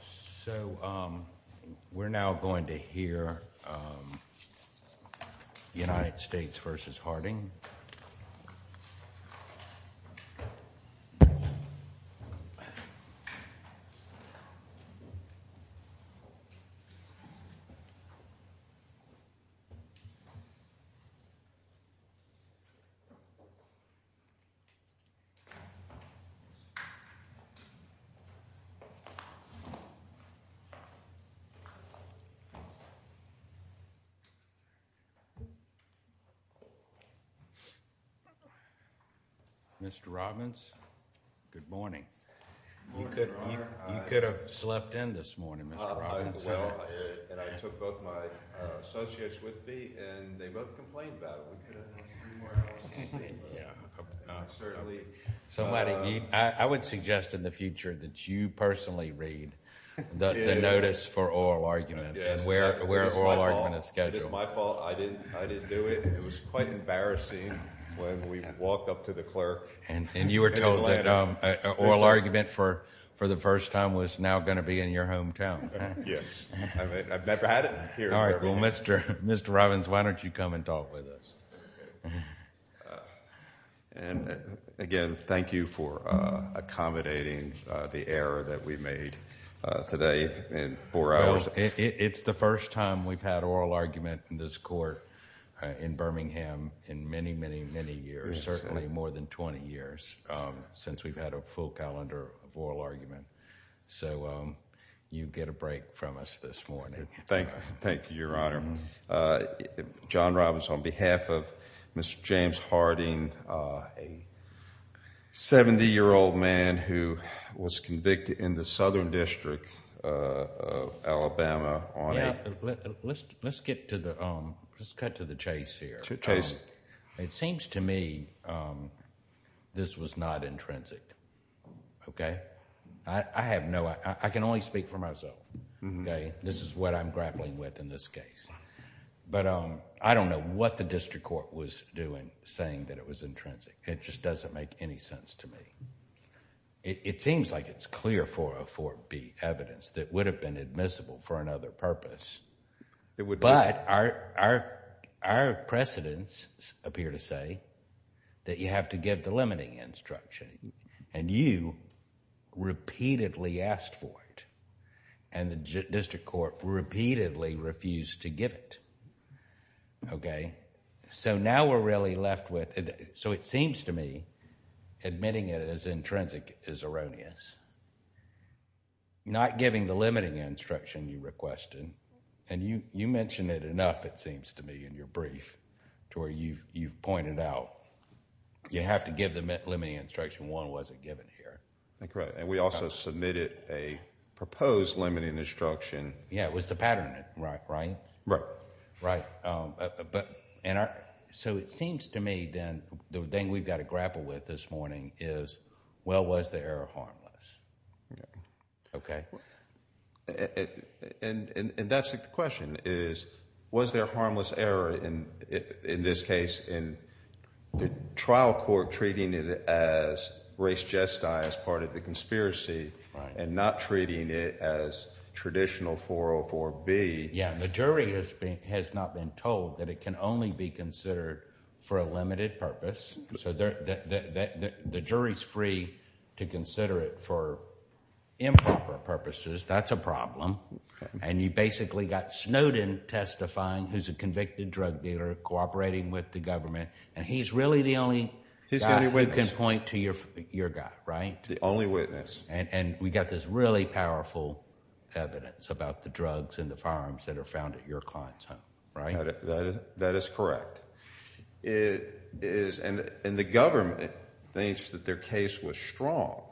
So we're now going to hear United States v. Harding Mr. Robbins, good morning. You could have slept in this morning, Mr. Robbins. I took both my associates with me, and they both complained about it. We could have had the notice for oral argument, and where oral argument is scheduled. It's my fault. I didn't do it. It was quite embarrassing when we walked up to the clerk in Atlanta. And you were told that oral argument for the first time was now going to be in your hometown. Yes. I've never had it here. All right. Well, Mr. Robbins, why don't you come and talk with us? And again, thank you for accommodating the error that we made today in four hours. It's the first time we've had oral argument in this court in Birmingham in many, many, many years, certainly more than 20 years since we've had a full calendar of oral argument. So you get a break from us this morning. Thank you, Your Honor. John Robbins, on behalf of Mr. James Harding, a 70-year-old man who was convicted in the Southern District of Alabama on a... Let's cut to the chase here. Chase. It seems to me this was not intrinsic. Okay? I have no... I can only speak for myself. Okay? This is what I'm grappling with in this case. But I don't know what the district court was doing saying that it was intrinsic. It just doesn't make any sense to me. It seems like it's clear 404B evidence that would have been admissible for another purpose. But our precedents appear to say that you have to give the limiting instruction. And you repeatedly asked for it. And the district court repeatedly refused to give it. Okay? So now we're really left with... So it seems to me admitting it as intrinsic is erroneous. Not giving the limiting instruction you requested. And you mentioned it enough, it seems to me, in your brief to where you've pointed out. You have to give the limiting instruction. One wasn't given here. Correct. And we also submitted a proposed limiting instruction. Yeah, it was the pattern, right? Right. Right. So it seems to me then the thing we've got to grapple with this morning is, well, was the error harmless? Yeah. Okay? And that's the question is, was there harmless error in this case, in the trial court treating it as race gesti as part of the conspiracy and not treating it as traditional 404B? Yeah, the jury has not been told that it can only be considered for a limited purpose. So the jury's free to consider it for improper purposes. That's a problem. And you basically got Snowden testifying, who's a convicted drug dealer, cooperating with the government. And he's really the only guy who can point to your guy, right? The only witness. And we got this really powerful evidence about the drugs and the firearms that are found at your client's home, right? That is correct. And the government thinks that their case was strong.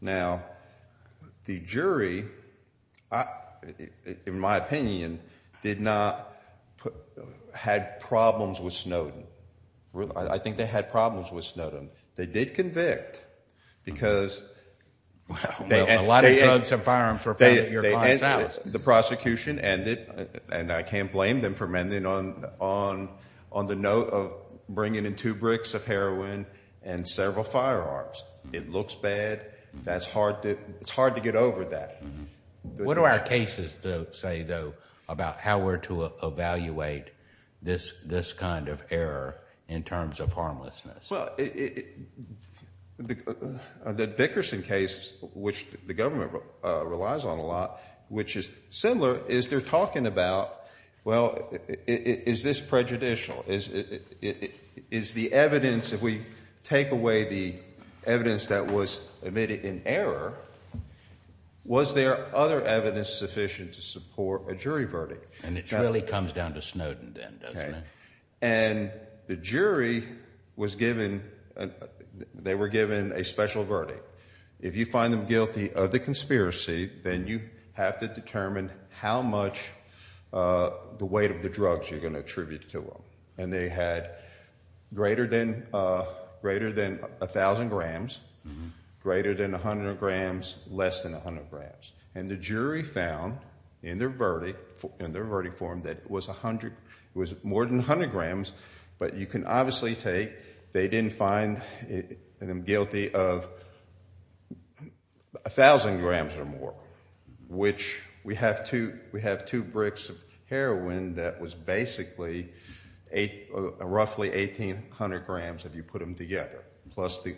Now, the jury, in my opinion, did not have problems with Snowden. I think they had problems with Snowden. They did convict because they had— A lot of drugs and firearms were found at your client's house. The prosecution ended, and I can't blame them for ending on the note of bringing in two bricks of heroin and several firearms. It looks bad. It's hard to get over that. What do our cases say, though, about how we're to evaluate this kind of error in terms of harmlessness? Well, the Dickerson case, which the government relies on a lot, which is similar, is they're talking about, well, is this prejudicial? Is the evidence—if we take away the evidence that was admitted in error, was there other evidence sufficient to support a jury verdict? And it really comes down to Snowden then, doesn't it? And the jury was given—they were given a special verdict. If you find them guilty of the conspiracy, then you have to determine how much the weight of the drugs you're going to attribute to them. And they had greater than 1,000 grams, greater than 100 grams, less than 100 grams. And the jury found in their verdict form that it was 100—it was more than 100 grams, but you can obviously take—they didn't find them guilty of 1,000 grams or more, which we have two bricks of heroin that was basically roughly 1,800 grams if you put them together, plus the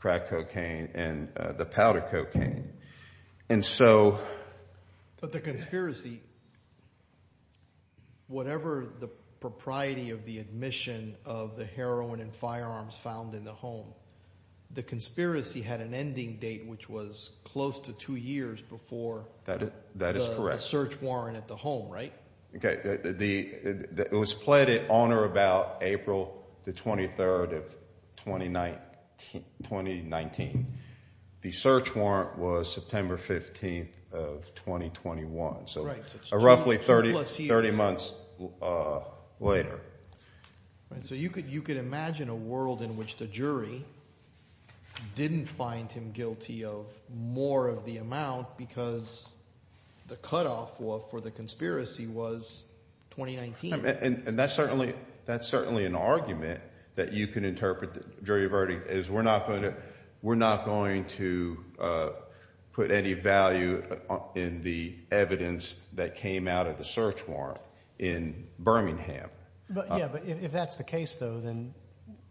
crack cocaine and the powder cocaine. And so— But the conspiracy, whatever the propriety of the admission of the heroin and firearms found in the home, the conspiracy had an ending date, which was close to two years before— That is correct. The search warrant at the home, right? It was pled at on or about April the 23rd of 2019. The search warrant was September 15th of 2021, so roughly 30 months later. So you could imagine a world in which the jury didn't find him guilty of more of the amount because the cutoff for the conspiracy was 2019. And that's certainly an argument that you can interpret the jury verdict as we're not going to put any value in the evidence that came out of the search warrant in Birmingham. Yeah, but if that's the case, though, then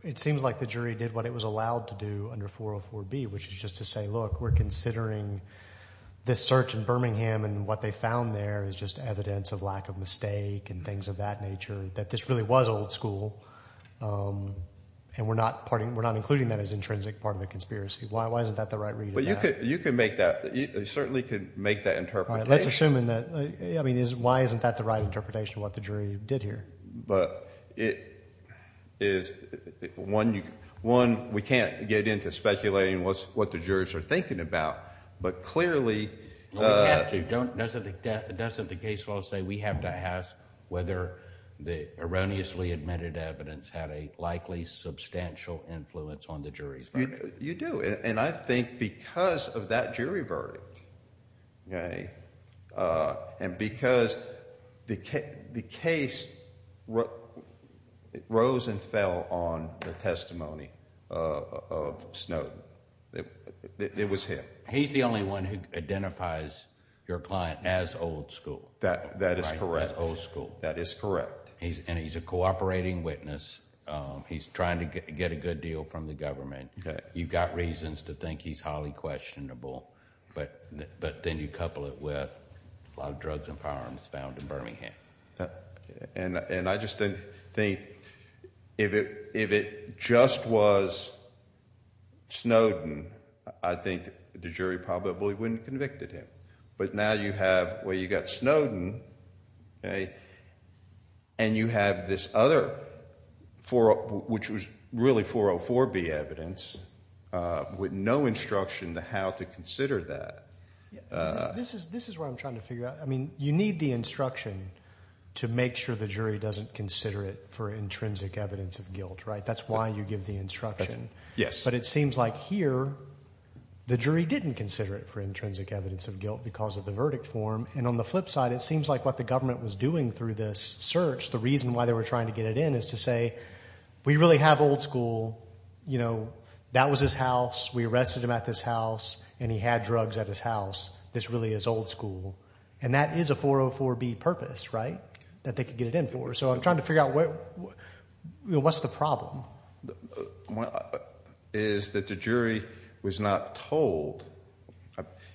it seems like the jury did what it was allowed to do under 404B, which is just to say, look, we're considering this search in Birmingham and what they found there is just evidence of lack of mistake and things of that nature, that this really was old school, and we're not including that as an intrinsic part of the conspiracy. Why isn't that the right read of that? But you could make that—you certainly could make that interpretation. Let's assume that—I mean, why isn't that the right interpretation of what the jury did here? But it is—one, we can't get into speculating what the jurors are thinking about, but clearly— We have to. Doesn't the case law say we have to ask whether the erroneously admitted evidence had a likely substantial influence on the jury's verdict? You do, and I think because of that jury verdict and because the case rose and fell on the testimony of Snowden, it was him. He's the only one who identifies your client as old school. That is correct. Right, as old school. That is correct. And he's a cooperating witness. He's trying to get a good deal from the government. You've got reasons to think he's highly questionable, but then you couple it with a lot of drugs and firearms found in Birmingham. And I just think if it just was Snowden, I think the jury probably wouldn't have convicted him. But now you have—well, you've got Snowden, and you have this other—which was really 404B evidence with no instruction on how to consider that. This is what I'm trying to figure out. I mean, you need the instruction to make sure the jury doesn't consider it for intrinsic evidence of guilt, right? That's why you give the instruction. Yes. But it seems like here the jury didn't consider it for intrinsic evidence of guilt because of the verdict form. And on the flip side, it seems like what the government was doing through this search, the reason why they were trying to get it in, is to say we really have old school. That was his house. We arrested him at this house, and he had drugs at his house. This really is old school. And that is a 404B purpose, right, that they could get it in for. So I'm trying to figure out what's the problem. Well, it is that the jury was not told.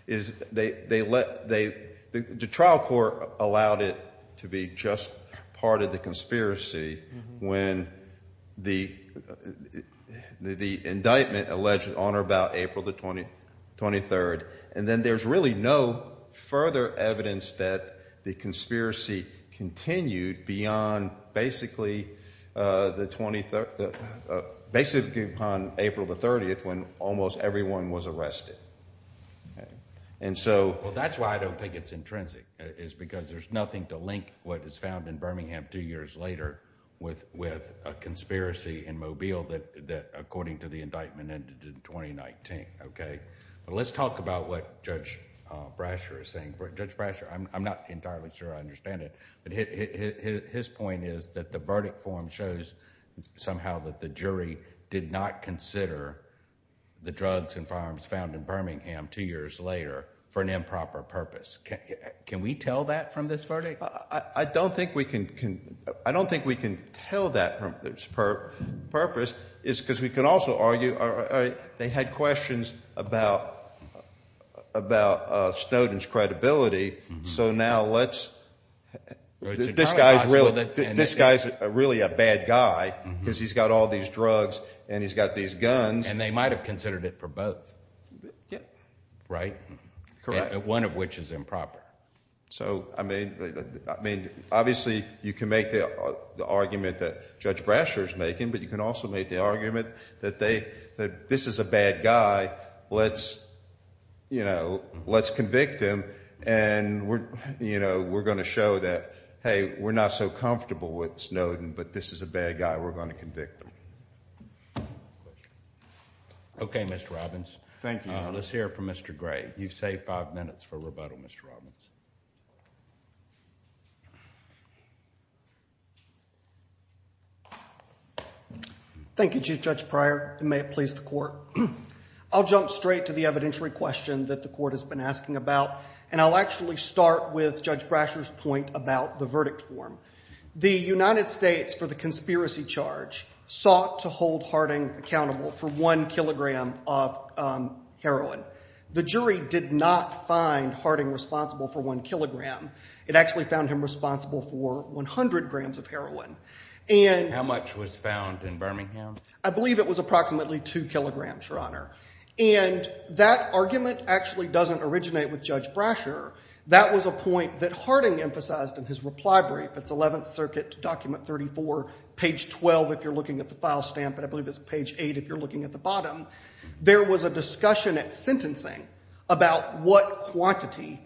They let—the trial court allowed it to be just part of the conspiracy when the indictment alleged on or about April the 23rd. And then there's really no further evidence that the conspiracy continued beyond basically the 23rd—basically on April the 30th when almost everyone was arrested. And so— Well, that's why I don't think it's intrinsic is because there's nothing to link what is found in Birmingham two years later with a conspiracy in Mobile that, according to the indictment, ended in 2019. But let's talk about what Judge Brasher is saying. Judge Brasher, I'm not entirely sure I understand it, but his point is that the verdict form shows somehow that the jury did not consider the drugs and firearms found in Birmingham two years later for an improper purpose. Can we tell that from this verdict? I don't think we can tell that from this purpose because we can also argue they had questions about Snowden's credibility. So now let's—this guy is really a bad guy because he's got all these drugs and he's got these guns. And they might have considered it for both. Yeah. Right? Correct. One of which is improper. So, I mean, obviously you can make the argument that Judge Brasher is making, but you can also make the argument that this is a bad guy. Let's convict him and we're going to show that, hey, we're not so comfortable with Snowden, but this is a bad guy. We're going to convict him. Okay, Mr. Robbins. Thank you. Let's hear from Mr. Gray. You've saved five minutes for rebuttal, Mr. Robbins. Thank you, Chief Judge Pryor, and may it please the Court. I'll jump straight to the evidentiary question that the Court has been asking about, and I'll actually start with Judge Brasher's point about the verdict form. The United States, for the conspiracy charge, sought to hold Harding accountable for one kilogram of heroin. The jury did not find Harding responsible for one kilogram. It actually found him responsible for 100 grams of heroin. How much was found in Birmingham? I believe it was approximately two kilograms, Your Honor, and that argument actually doesn't originate with Judge Brasher. That was a point that Harding emphasized in his reply brief. It's Eleventh Circuit, Document 34, page 12 if you're looking at the file stamp, and I believe it's page 8 if you're looking at the bottom. There was a discussion at sentencing about what quantity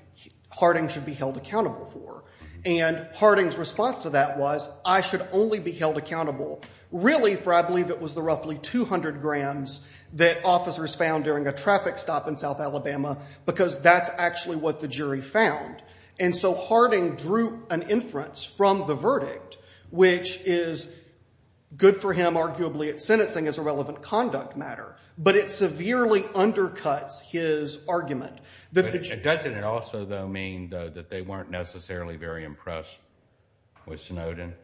Harding should be held accountable for, and Harding's response to that was, I should only be held accountable, really, for I believe it was the roughly 200 grams that officers found during a traffic stop in South Alabama because that's actually what the jury found. And so Harding drew an inference from the verdict, which is good for him arguably at sentencing as a relevant conduct matter, but it severely undercuts his argument. Doesn't it also, though, mean, though, that they weren't necessarily very impressed with Snowden?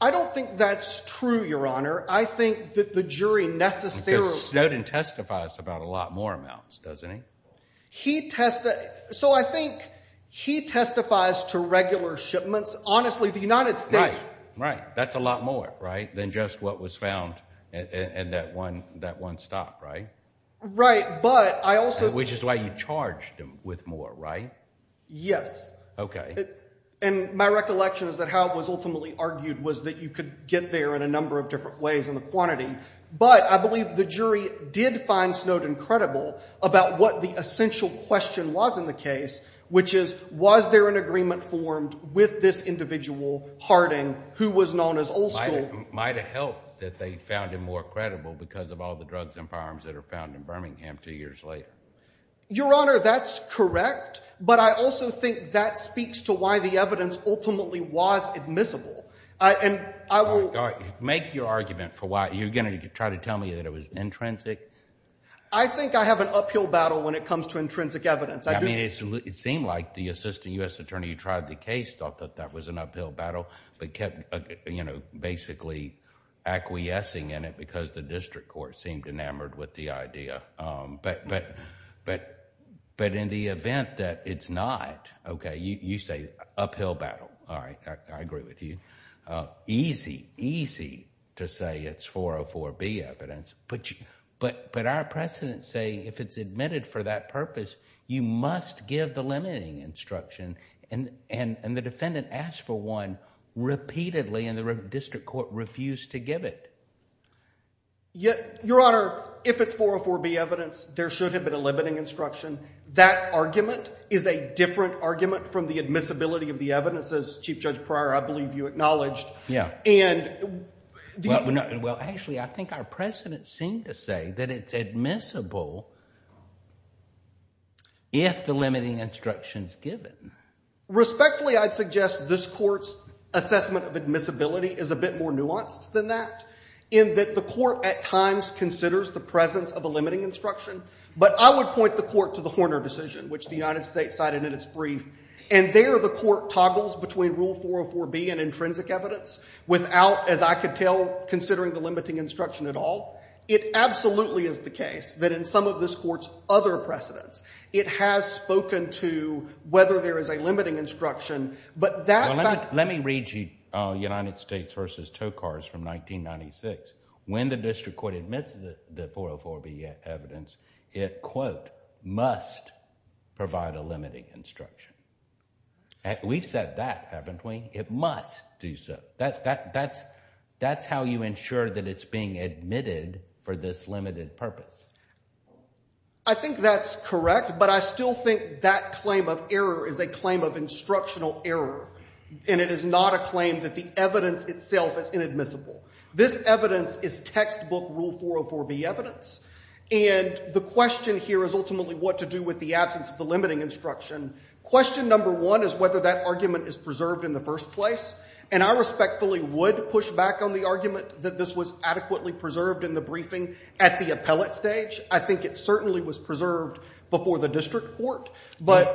I don't think that's true, Your Honor. I think that the jury necessarily – Because Snowden testifies about a lot more amounts, doesn't he? He – so I think he testifies to regular shipments. Honestly, the United States – Right, right. That's a lot more than just what was found in that one stop, right? Right, but I also – Which is why you charged him with more, right? Yes. Okay. And my recollection is that how it was ultimately argued was that you could get there in a number of different ways in the quantity, but I believe the jury did find Snowden credible about what the essential question was in the case, which is was there an agreement formed with this individual, Harding, who was known as old school? Might have helped that they found him more credible because of all the drugs and firearms that are found in Birmingham two years later. Your Honor, that's correct, but I also think that speaks to why the evidence ultimately was admissible. And I will – Make your argument for why – you're going to try to tell me that it was intrinsic? I think I have an uphill battle when it comes to intrinsic evidence. I mean it seemed like the assistant U.S. attorney who tried the case thought that that was an uphill battle but kept basically acquiescing in it because the district court seemed enamored with the idea. But in the event that it's not – okay, you say uphill battle. All right, I agree with you. Easy, easy to say it's 404B evidence. But our precedents say if it's admitted for that purpose, you must give the limiting instruction, and the defendant asked for one repeatedly and the district court refused to give it. Your Honor, if it's 404B evidence, there should have been a limiting instruction. That argument is a different argument from the admissibility of the evidence. As Chief Judge Pryor, I believe you acknowledged. Well, actually I think our precedents seem to say that it's admissible if the limiting instruction is given. Respectfully, I'd suggest this court's assessment of admissibility is a bit more nuanced than that in that the court at times considers the presence of a limiting instruction. But I would point the court to the Horner decision, which the United States cited in its brief, and there the court toggles between Rule 404B and intrinsic evidence without, as I could tell, considering the limiting instruction at all. It absolutely is the case that in some of this court's other precedents, it has spoken to whether there is a limiting instruction, but that fact – Well, let me read you United States v. Tokars from 1996. When the district court admits the 404B evidence, it, quote, must provide a limiting instruction. We've said that, haven't we? It must do so. That's how you ensure that it's being admitted for this limited purpose. I think that's correct, but I still think that claim of error is a claim of instructional error, and it is not a claim that the evidence itself is inadmissible. This evidence is textbook Rule 404B evidence, and the question here is ultimately what to do with the absence of the limiting instruction. Question number one is whether that argument is preserved in the first place, and I respectfully would push back on the argument that this was adequately preserved in the briefing at the appellate stage. I think it certainly was preserved before the district court, but— Before the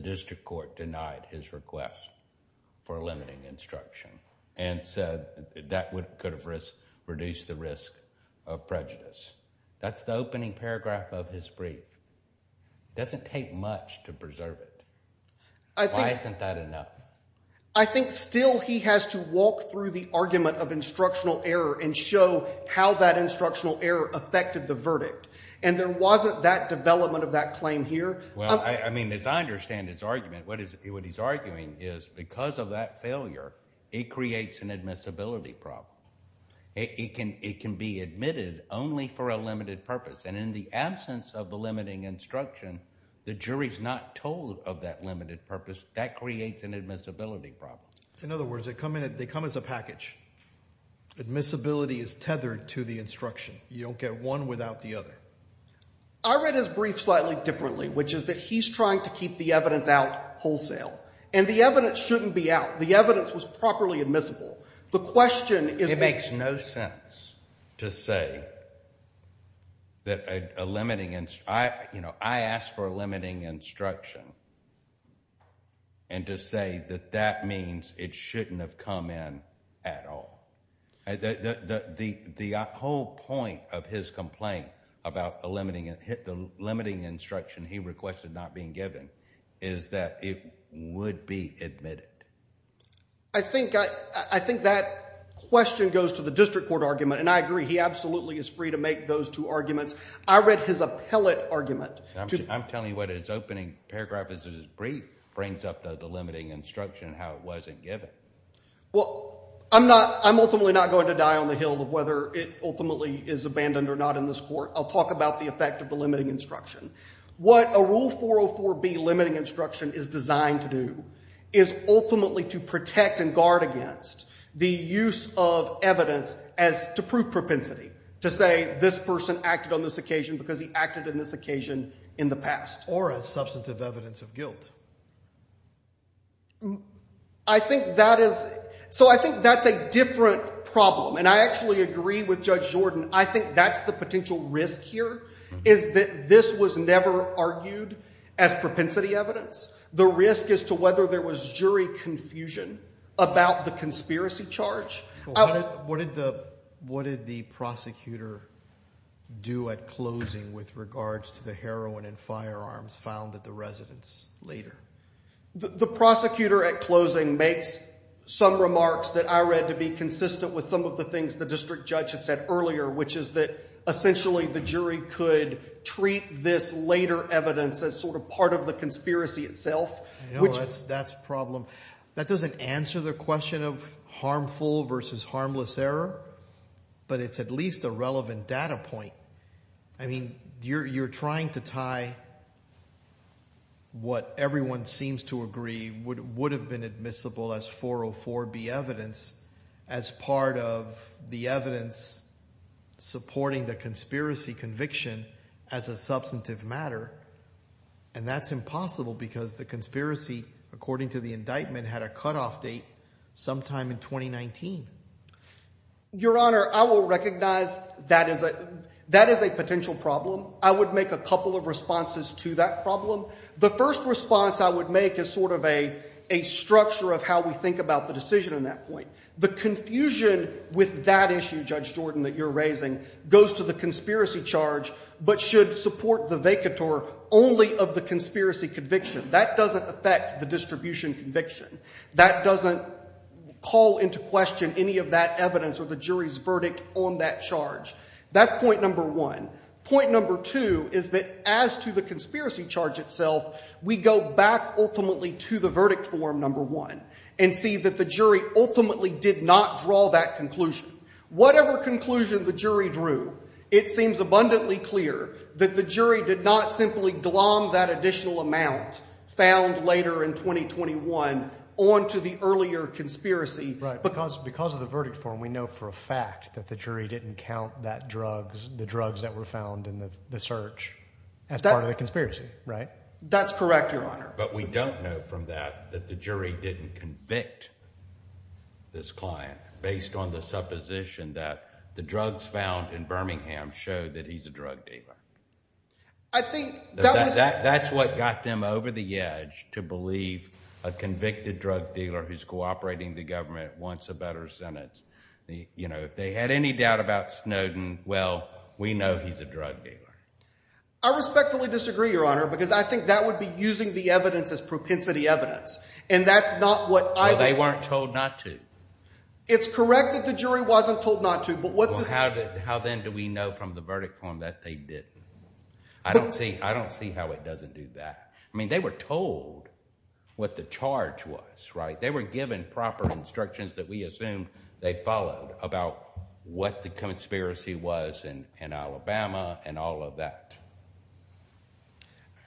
district court denied his request for a limiting instruction and said that could have reduced the risk of prejudice. That's the opening paragraph of his brief. It doesn't take much to preserve it. Why isn't that enough? I think still he has to walk through the argument of instructional error and show how that instructional error affected the verdict, and there wasn't that development of that claim here. Well, I mean, as I understand his argument, what he's arguing is because of that failure, it creates an admissibility problem. It can be admitted only for a limited purpose, and in the absence of the limiting instruction, the jury's not told of that limited purpose. That creates an admissibility problem. In other words, they come as a package. Admissibility is tethered to the instruction. You don't get one without the other. I read his brief slightly differently, which is that he's trying to keep the evidence out wholesale, and the evidence shouldn't be out. The evidence was properly admissible. The question is— It makes no sense to say that a limiting—I asked for a limiting instruction and to say that that means it shouldn't have come in at all. The whole point of his complaint about a limiting—the limiting instruction he requested not being given is that it would be admitted. I think that question goes to the district court argument, and I agree. He absolutely is free to make those two arguments. I read his appellate argument. I'm telling you what his opening paragraph of his brief brings up, though, the limiting instruction and how it wasn't given. Well, I'm not—I'm ultimately not going to die on the Hill of whether it ultimately is abandoned or not in this court. I'll talk about the effect of the limiting instruction. What a Rule 404B limiting instruction is designed to do is ultimately to protect and guard against the use of evidence as—to prove propensity, to say this person acted on this occasion because he acted on this occasion in the past. Or as substantive evidence of guilt. I think that is—so I think that's a different problem, and I actually agree with Judge Jordan. I think that's the potential risk here is that this was never argued as propensity evidence. The risk is to whether there was jury confusion about the conspiracy charge. What did the prosecutor do at closing with regards to the heroin and firearms found at the residence later? The prosecutor at closing makes some remarks that I read to be consistent with some of the things the district judge had said earlier, which is that essentially the jury could treat this later evidence as sort of part of the conspiracy itself. That's a problem. That doesn't answer the question of harmful versus harmless error, but it's at least a relevant data point. I mean you're trying to tie what everyone seems to agree would have been admissible as 404B evidence as part of the evidence supporting the conspiracy conviction as a substantive matter, and that's impossible because the conspiracy, according to the indictment, had a cutoff date sometime in 2019. Your Honor, I will recognize that is a potential problem. I would make a couple of responses to that problem. The first response I would make is sort of a structure of how we think about the decision in that point. The confusion with that issue, Judge Jordan, that you're raising goes to the conspiracy charge but should support the vacatur only of the conspiracy conviction. That doesn't affect the distribution conviction. That doesn't call into question any of that evidence or the jury's verdict on that charge. That's point number one. Point number two is that as to the conspiracy charge itself, we go back ultimately to the verdict form, number one, and see that the jury ultimately did not draw that conclusion. Whatever conclusion the jury drew, it seems abundantly clear that the jury did not simply glom that additional amount found later in 2021 on to the earlier conspiracy. Because of the verdict form, we know for a fact that the jury didn't count that drugs, the drugs that were found in the search as part of the conspiracy, right? That's correct, Your Honor. But we don't know from that that the jury didn't convict this client based on the supposition that the drugs found in Birmingham showed that he's a drug dealer. I think that was – That's what got them over the edge to believe a convicted drug dealer who's cooperating with the government wants a better sentence. If they had any doubt about Snowden, well, we know he's a drug dealer. I respectfully disagree, Your Honor, because I think that would be using the evidence as propensity evidence, and that's not what I – Well, they weren't told not to. It's correct that the jury wasn't told not to, but what – Well, how then do we know from the verdict form that they didn't? I don't see how it doesn't do that. I mean they were told what the charge was, right? They were given proper instructions that we assume they followed about what the conspiracy was in Alabama and all of that.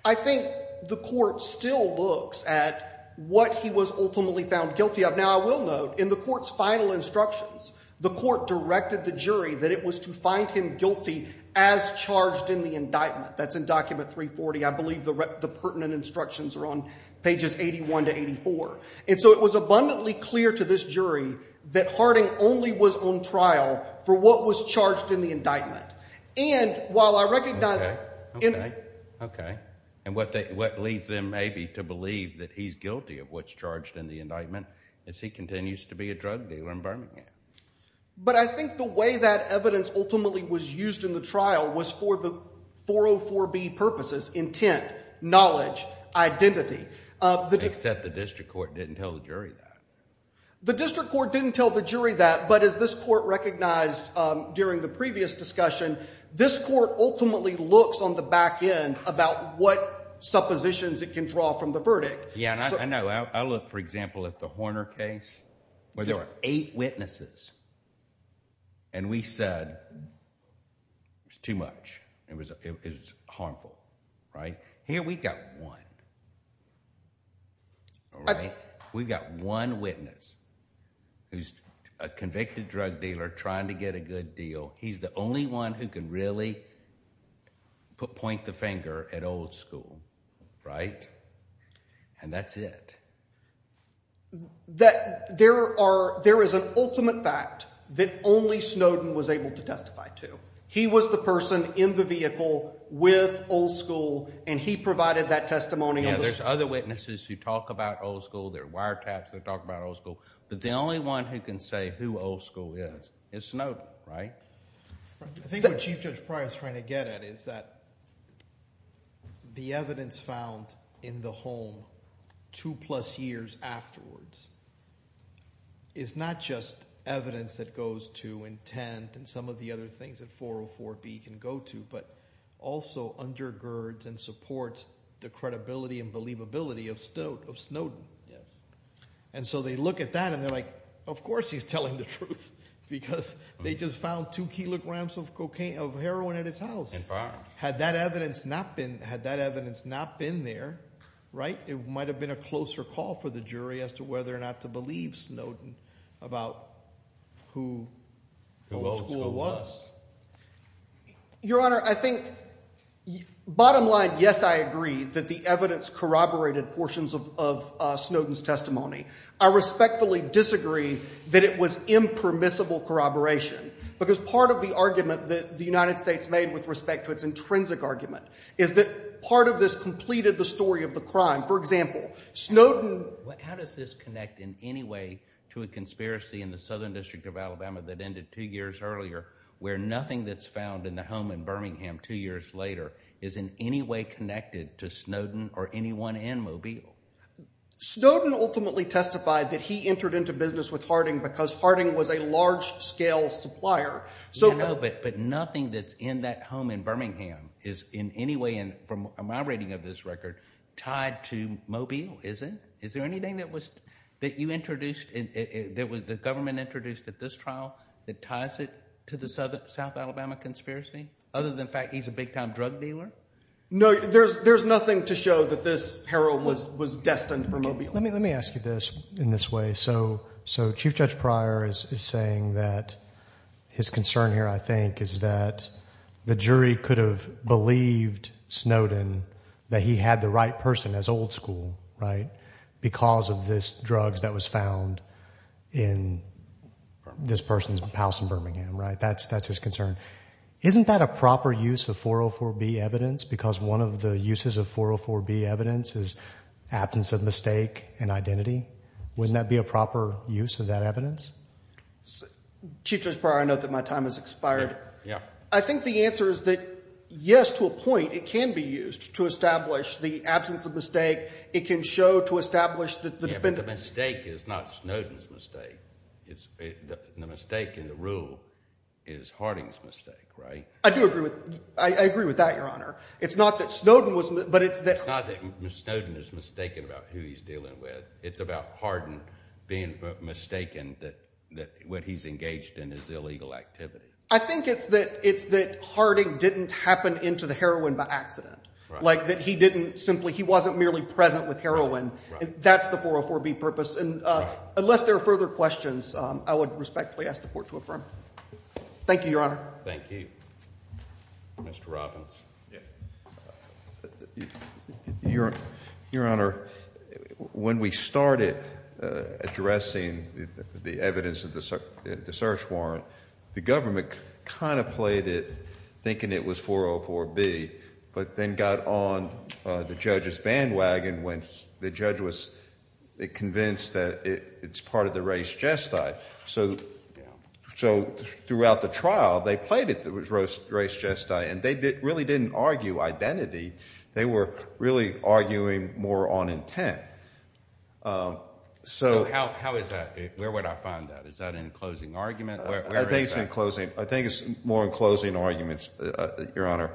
I think the court still looks at what he was ultimately found guilty of. Now, I will note in the court's final instructions, the court directed the jury that it was to find him guilty as charged in the indictment. That's in document 340. I believe the pertinent instructions are on pages 81 to 84. And so it was abundantly clear to this jury that Harding only was on trial for what was charged in the indictment. And while I recognize – Okay, okay. And what leads them maybe to believe that he's guilty of what's charged in the indictment is he continues to be a drug dealer in Birmingham. But I think the way that evidence ultimately was used in the trial was for the 404B purposes, intent, knowledge, identity. Except the district court didn't tell the jury that. The district court didn't tell the jury that, but as this court recognized during the previous discussion, this court ultimately looks on the back end about what suppositions it can draw from the verdict. Yeah, and I know. I look, for example, at the Horner case where there were eight witnesses. And we said it was too much. It was harmful, right? Here we've got one. We've got one witness who's a convicted drug dealer trying to get a good deal. He's the only one who can really point the finger at old school, right? And that's it. There are – there is an ultimate fact that only Snowden was able to testify to. He was the person in the vehicle with old school, and he provided that testimony. Yeah, there's other witnesses who talk about old school. There are wiretaps that talk about old school. But the only one who can say who old school is is Snowden, right? I think what Chief Judge Pryor is trying to get at is that the evidence found in the home two plus years afterwards is not just evidence that goes to intent and some of the other things that 404B can go to, but also undergirds and supports the credibility and believability of Snowden. Yes. And so they look at that, and they're like, of course he's telling the truth, because they just found two kilograms of cocaine – of heroin at his house. In progress. Had that evidence not been – had that evidence not been there, right, it might have been a closer call for the jury as to whether or not to believe Snowden about who old school was. Your Honor, I think bottom line, yes, I agree that the evidence corroborated portions of Snowden's testimony. I respectfully disagree that it was impermissible corroboration, because part of the argument that the United States made with respect to its intrinsic argument is that part of this completed the story of the crime. For example, Snowden – How does this connect in any way to a conspiracy in the Southern District of Alabama that ended two years earlier where nothing that's found in the home in Birmingham two years later is in any way connected to Snowden or anyone in Mobile? Snowden ultimately testified that he entered into business with Harding because Harding was a large-scale supplier. No, but nothing that's in that home in Birmingham is in any way, from my reading of this record, tied to Mobile, is it? Is there anything that you introduced – that the government introduced at this trial that ties it to the South Alabama conspiracy, other than the fact he's a big-time drug dealer? No, there's nothing to show that this peril was destined for Mobile. Let me ask you this in this way. Chief Judge Pryor is saying that his concern here, I think, is that the jury could have believed Snowden that he had the right person as old school because of this drug that was found in this person's house in Birmingham. That's his concern. Isn't that a proper use of 404B evidence? Because one of the uses of 404B evidence is absence of mistake and identity. Wouldn't that be a proper use of that evidence? Chief Judge Pryor, I note that my time has expired. Yeah. I think the answer is that, yes, to a point, it can be used to establish the absence of mistake. It can show to establish the dependent. Yeah, but the mistake is not Snowden's mistake. The mistake in the rule is Harding's mistake, right? I do agree with – I agree with that, Your Honor. It's not that Snowden was – but it's that – being mistaken that what he's engaged in is illegal activity. I think it's that Harding didn't happen into the heroin by accident. Like that he didn't simply – he wasn't merely present with heroin. That's the 404B purpose. Unless there are further questions, I would respectfully ask the court to affirm. Thank you, Your Honor. Thank you. Mr. Robbins. Your Honor, when we started addressing the evidence of the search warrant, the government kind of played it thinking it was 404B but then got on the judge's bandwagon when the judge was convinced that it's part of the race gesti. So throughout the trial, they played it that it was race gesti, and they really didn't argue identity. They were really arguing more on intent. So how is that? Where would I find that? Is that an enclosing argument? I think it's more enclosing arguments, Your Honor.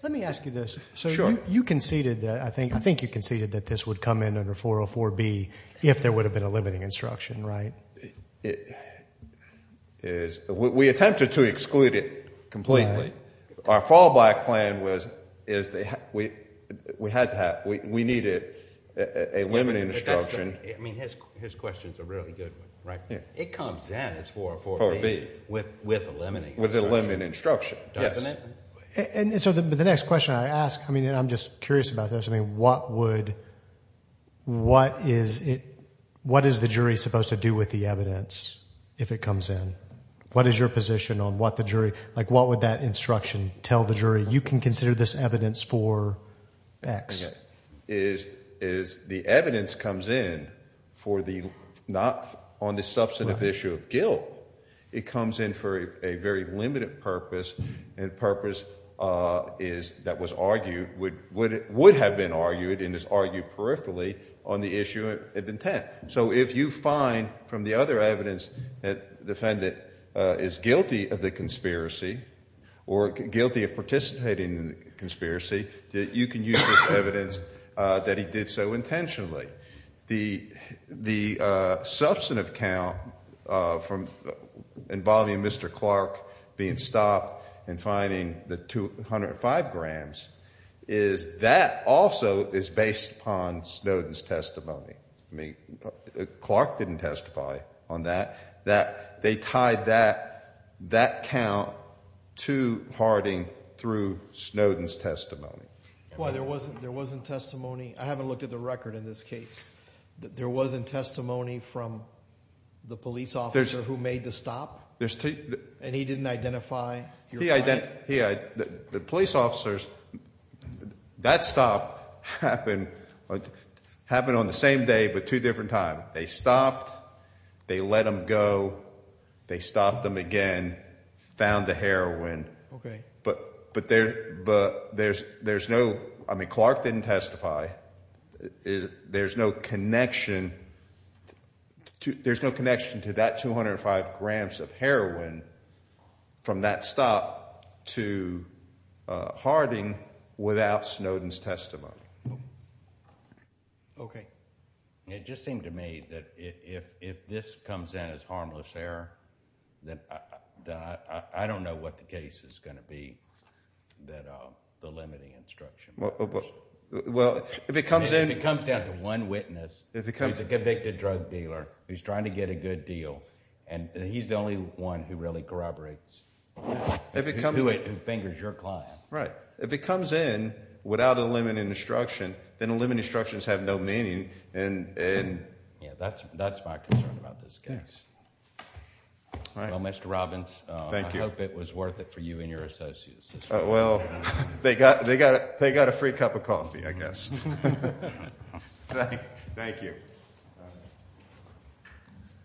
Let me ask you this. Sure. So you conceded that – I think you conceded that this would come in under 404B if there would have been a limiting instruction, right? We attempted to exclude it completely. Our fallback plan was we needed a limiting instruction. I mean, his question is a really good one, right? It comes in as 404B with a limiting instruction. With a limiting instruction, yes. Doesn't it? So the next question I ask, I mean, I'm just curious about this. I mean, what would – what is it – what is the jury supposed to do with the evidence if it comes in? What is your position on what the jury – like what would that instruction tell the jury, you can consider this evidence for X? The evidence comes in for the – not on the substantive issue of guilt. It comes in for a very limited purpose, and purpose is – that was argued – would have been argued and is argued peripherally on the issue of intent. So if you find from the other evidence that the defendant is guilty of the conspiracy or guilty of participating in the conspiracy, you can use this evidence that he did so intentionally. The substantive count from involving Mr. Clark being stopped and finding the 205 grams is that also is based upon Snowden's testimony. I mean, Clark didn't testify on that. They tied that count to Harding through Snowden's testimony. Why, there wasn't testimony – I haven't looked at the record in this case. There wasn't testimony from the police officer who made the stop? And he didn't identify your client? He – the police officers – that stop happened on the same day but two different times. They stopped, they let him go, they stopped him again, found the heroin. Okay. But there's no – I mean Clark didn't testify. There's no connection to that 205 grams of heroin from that stop to Harding without Snowden's testimony. Okay. It just seemed to me that if this comes in as harmless error, then I don't know what the case is going to be that the limiting instruction is. Well, if it comes in – If it comes down to one witness who's a convicted drug dealer who's trying to get a good deal and he's the only one who really corroborates, who fingers your client. Right. If it comes in without a limiting instruction, then the limiting instructions have no meaning. Yeah, that's my concern about this case. Well, Mr. Robbins, I hope it was worth it for you and your associates. Well, they got a free cup of coffee, I guess. Thank you.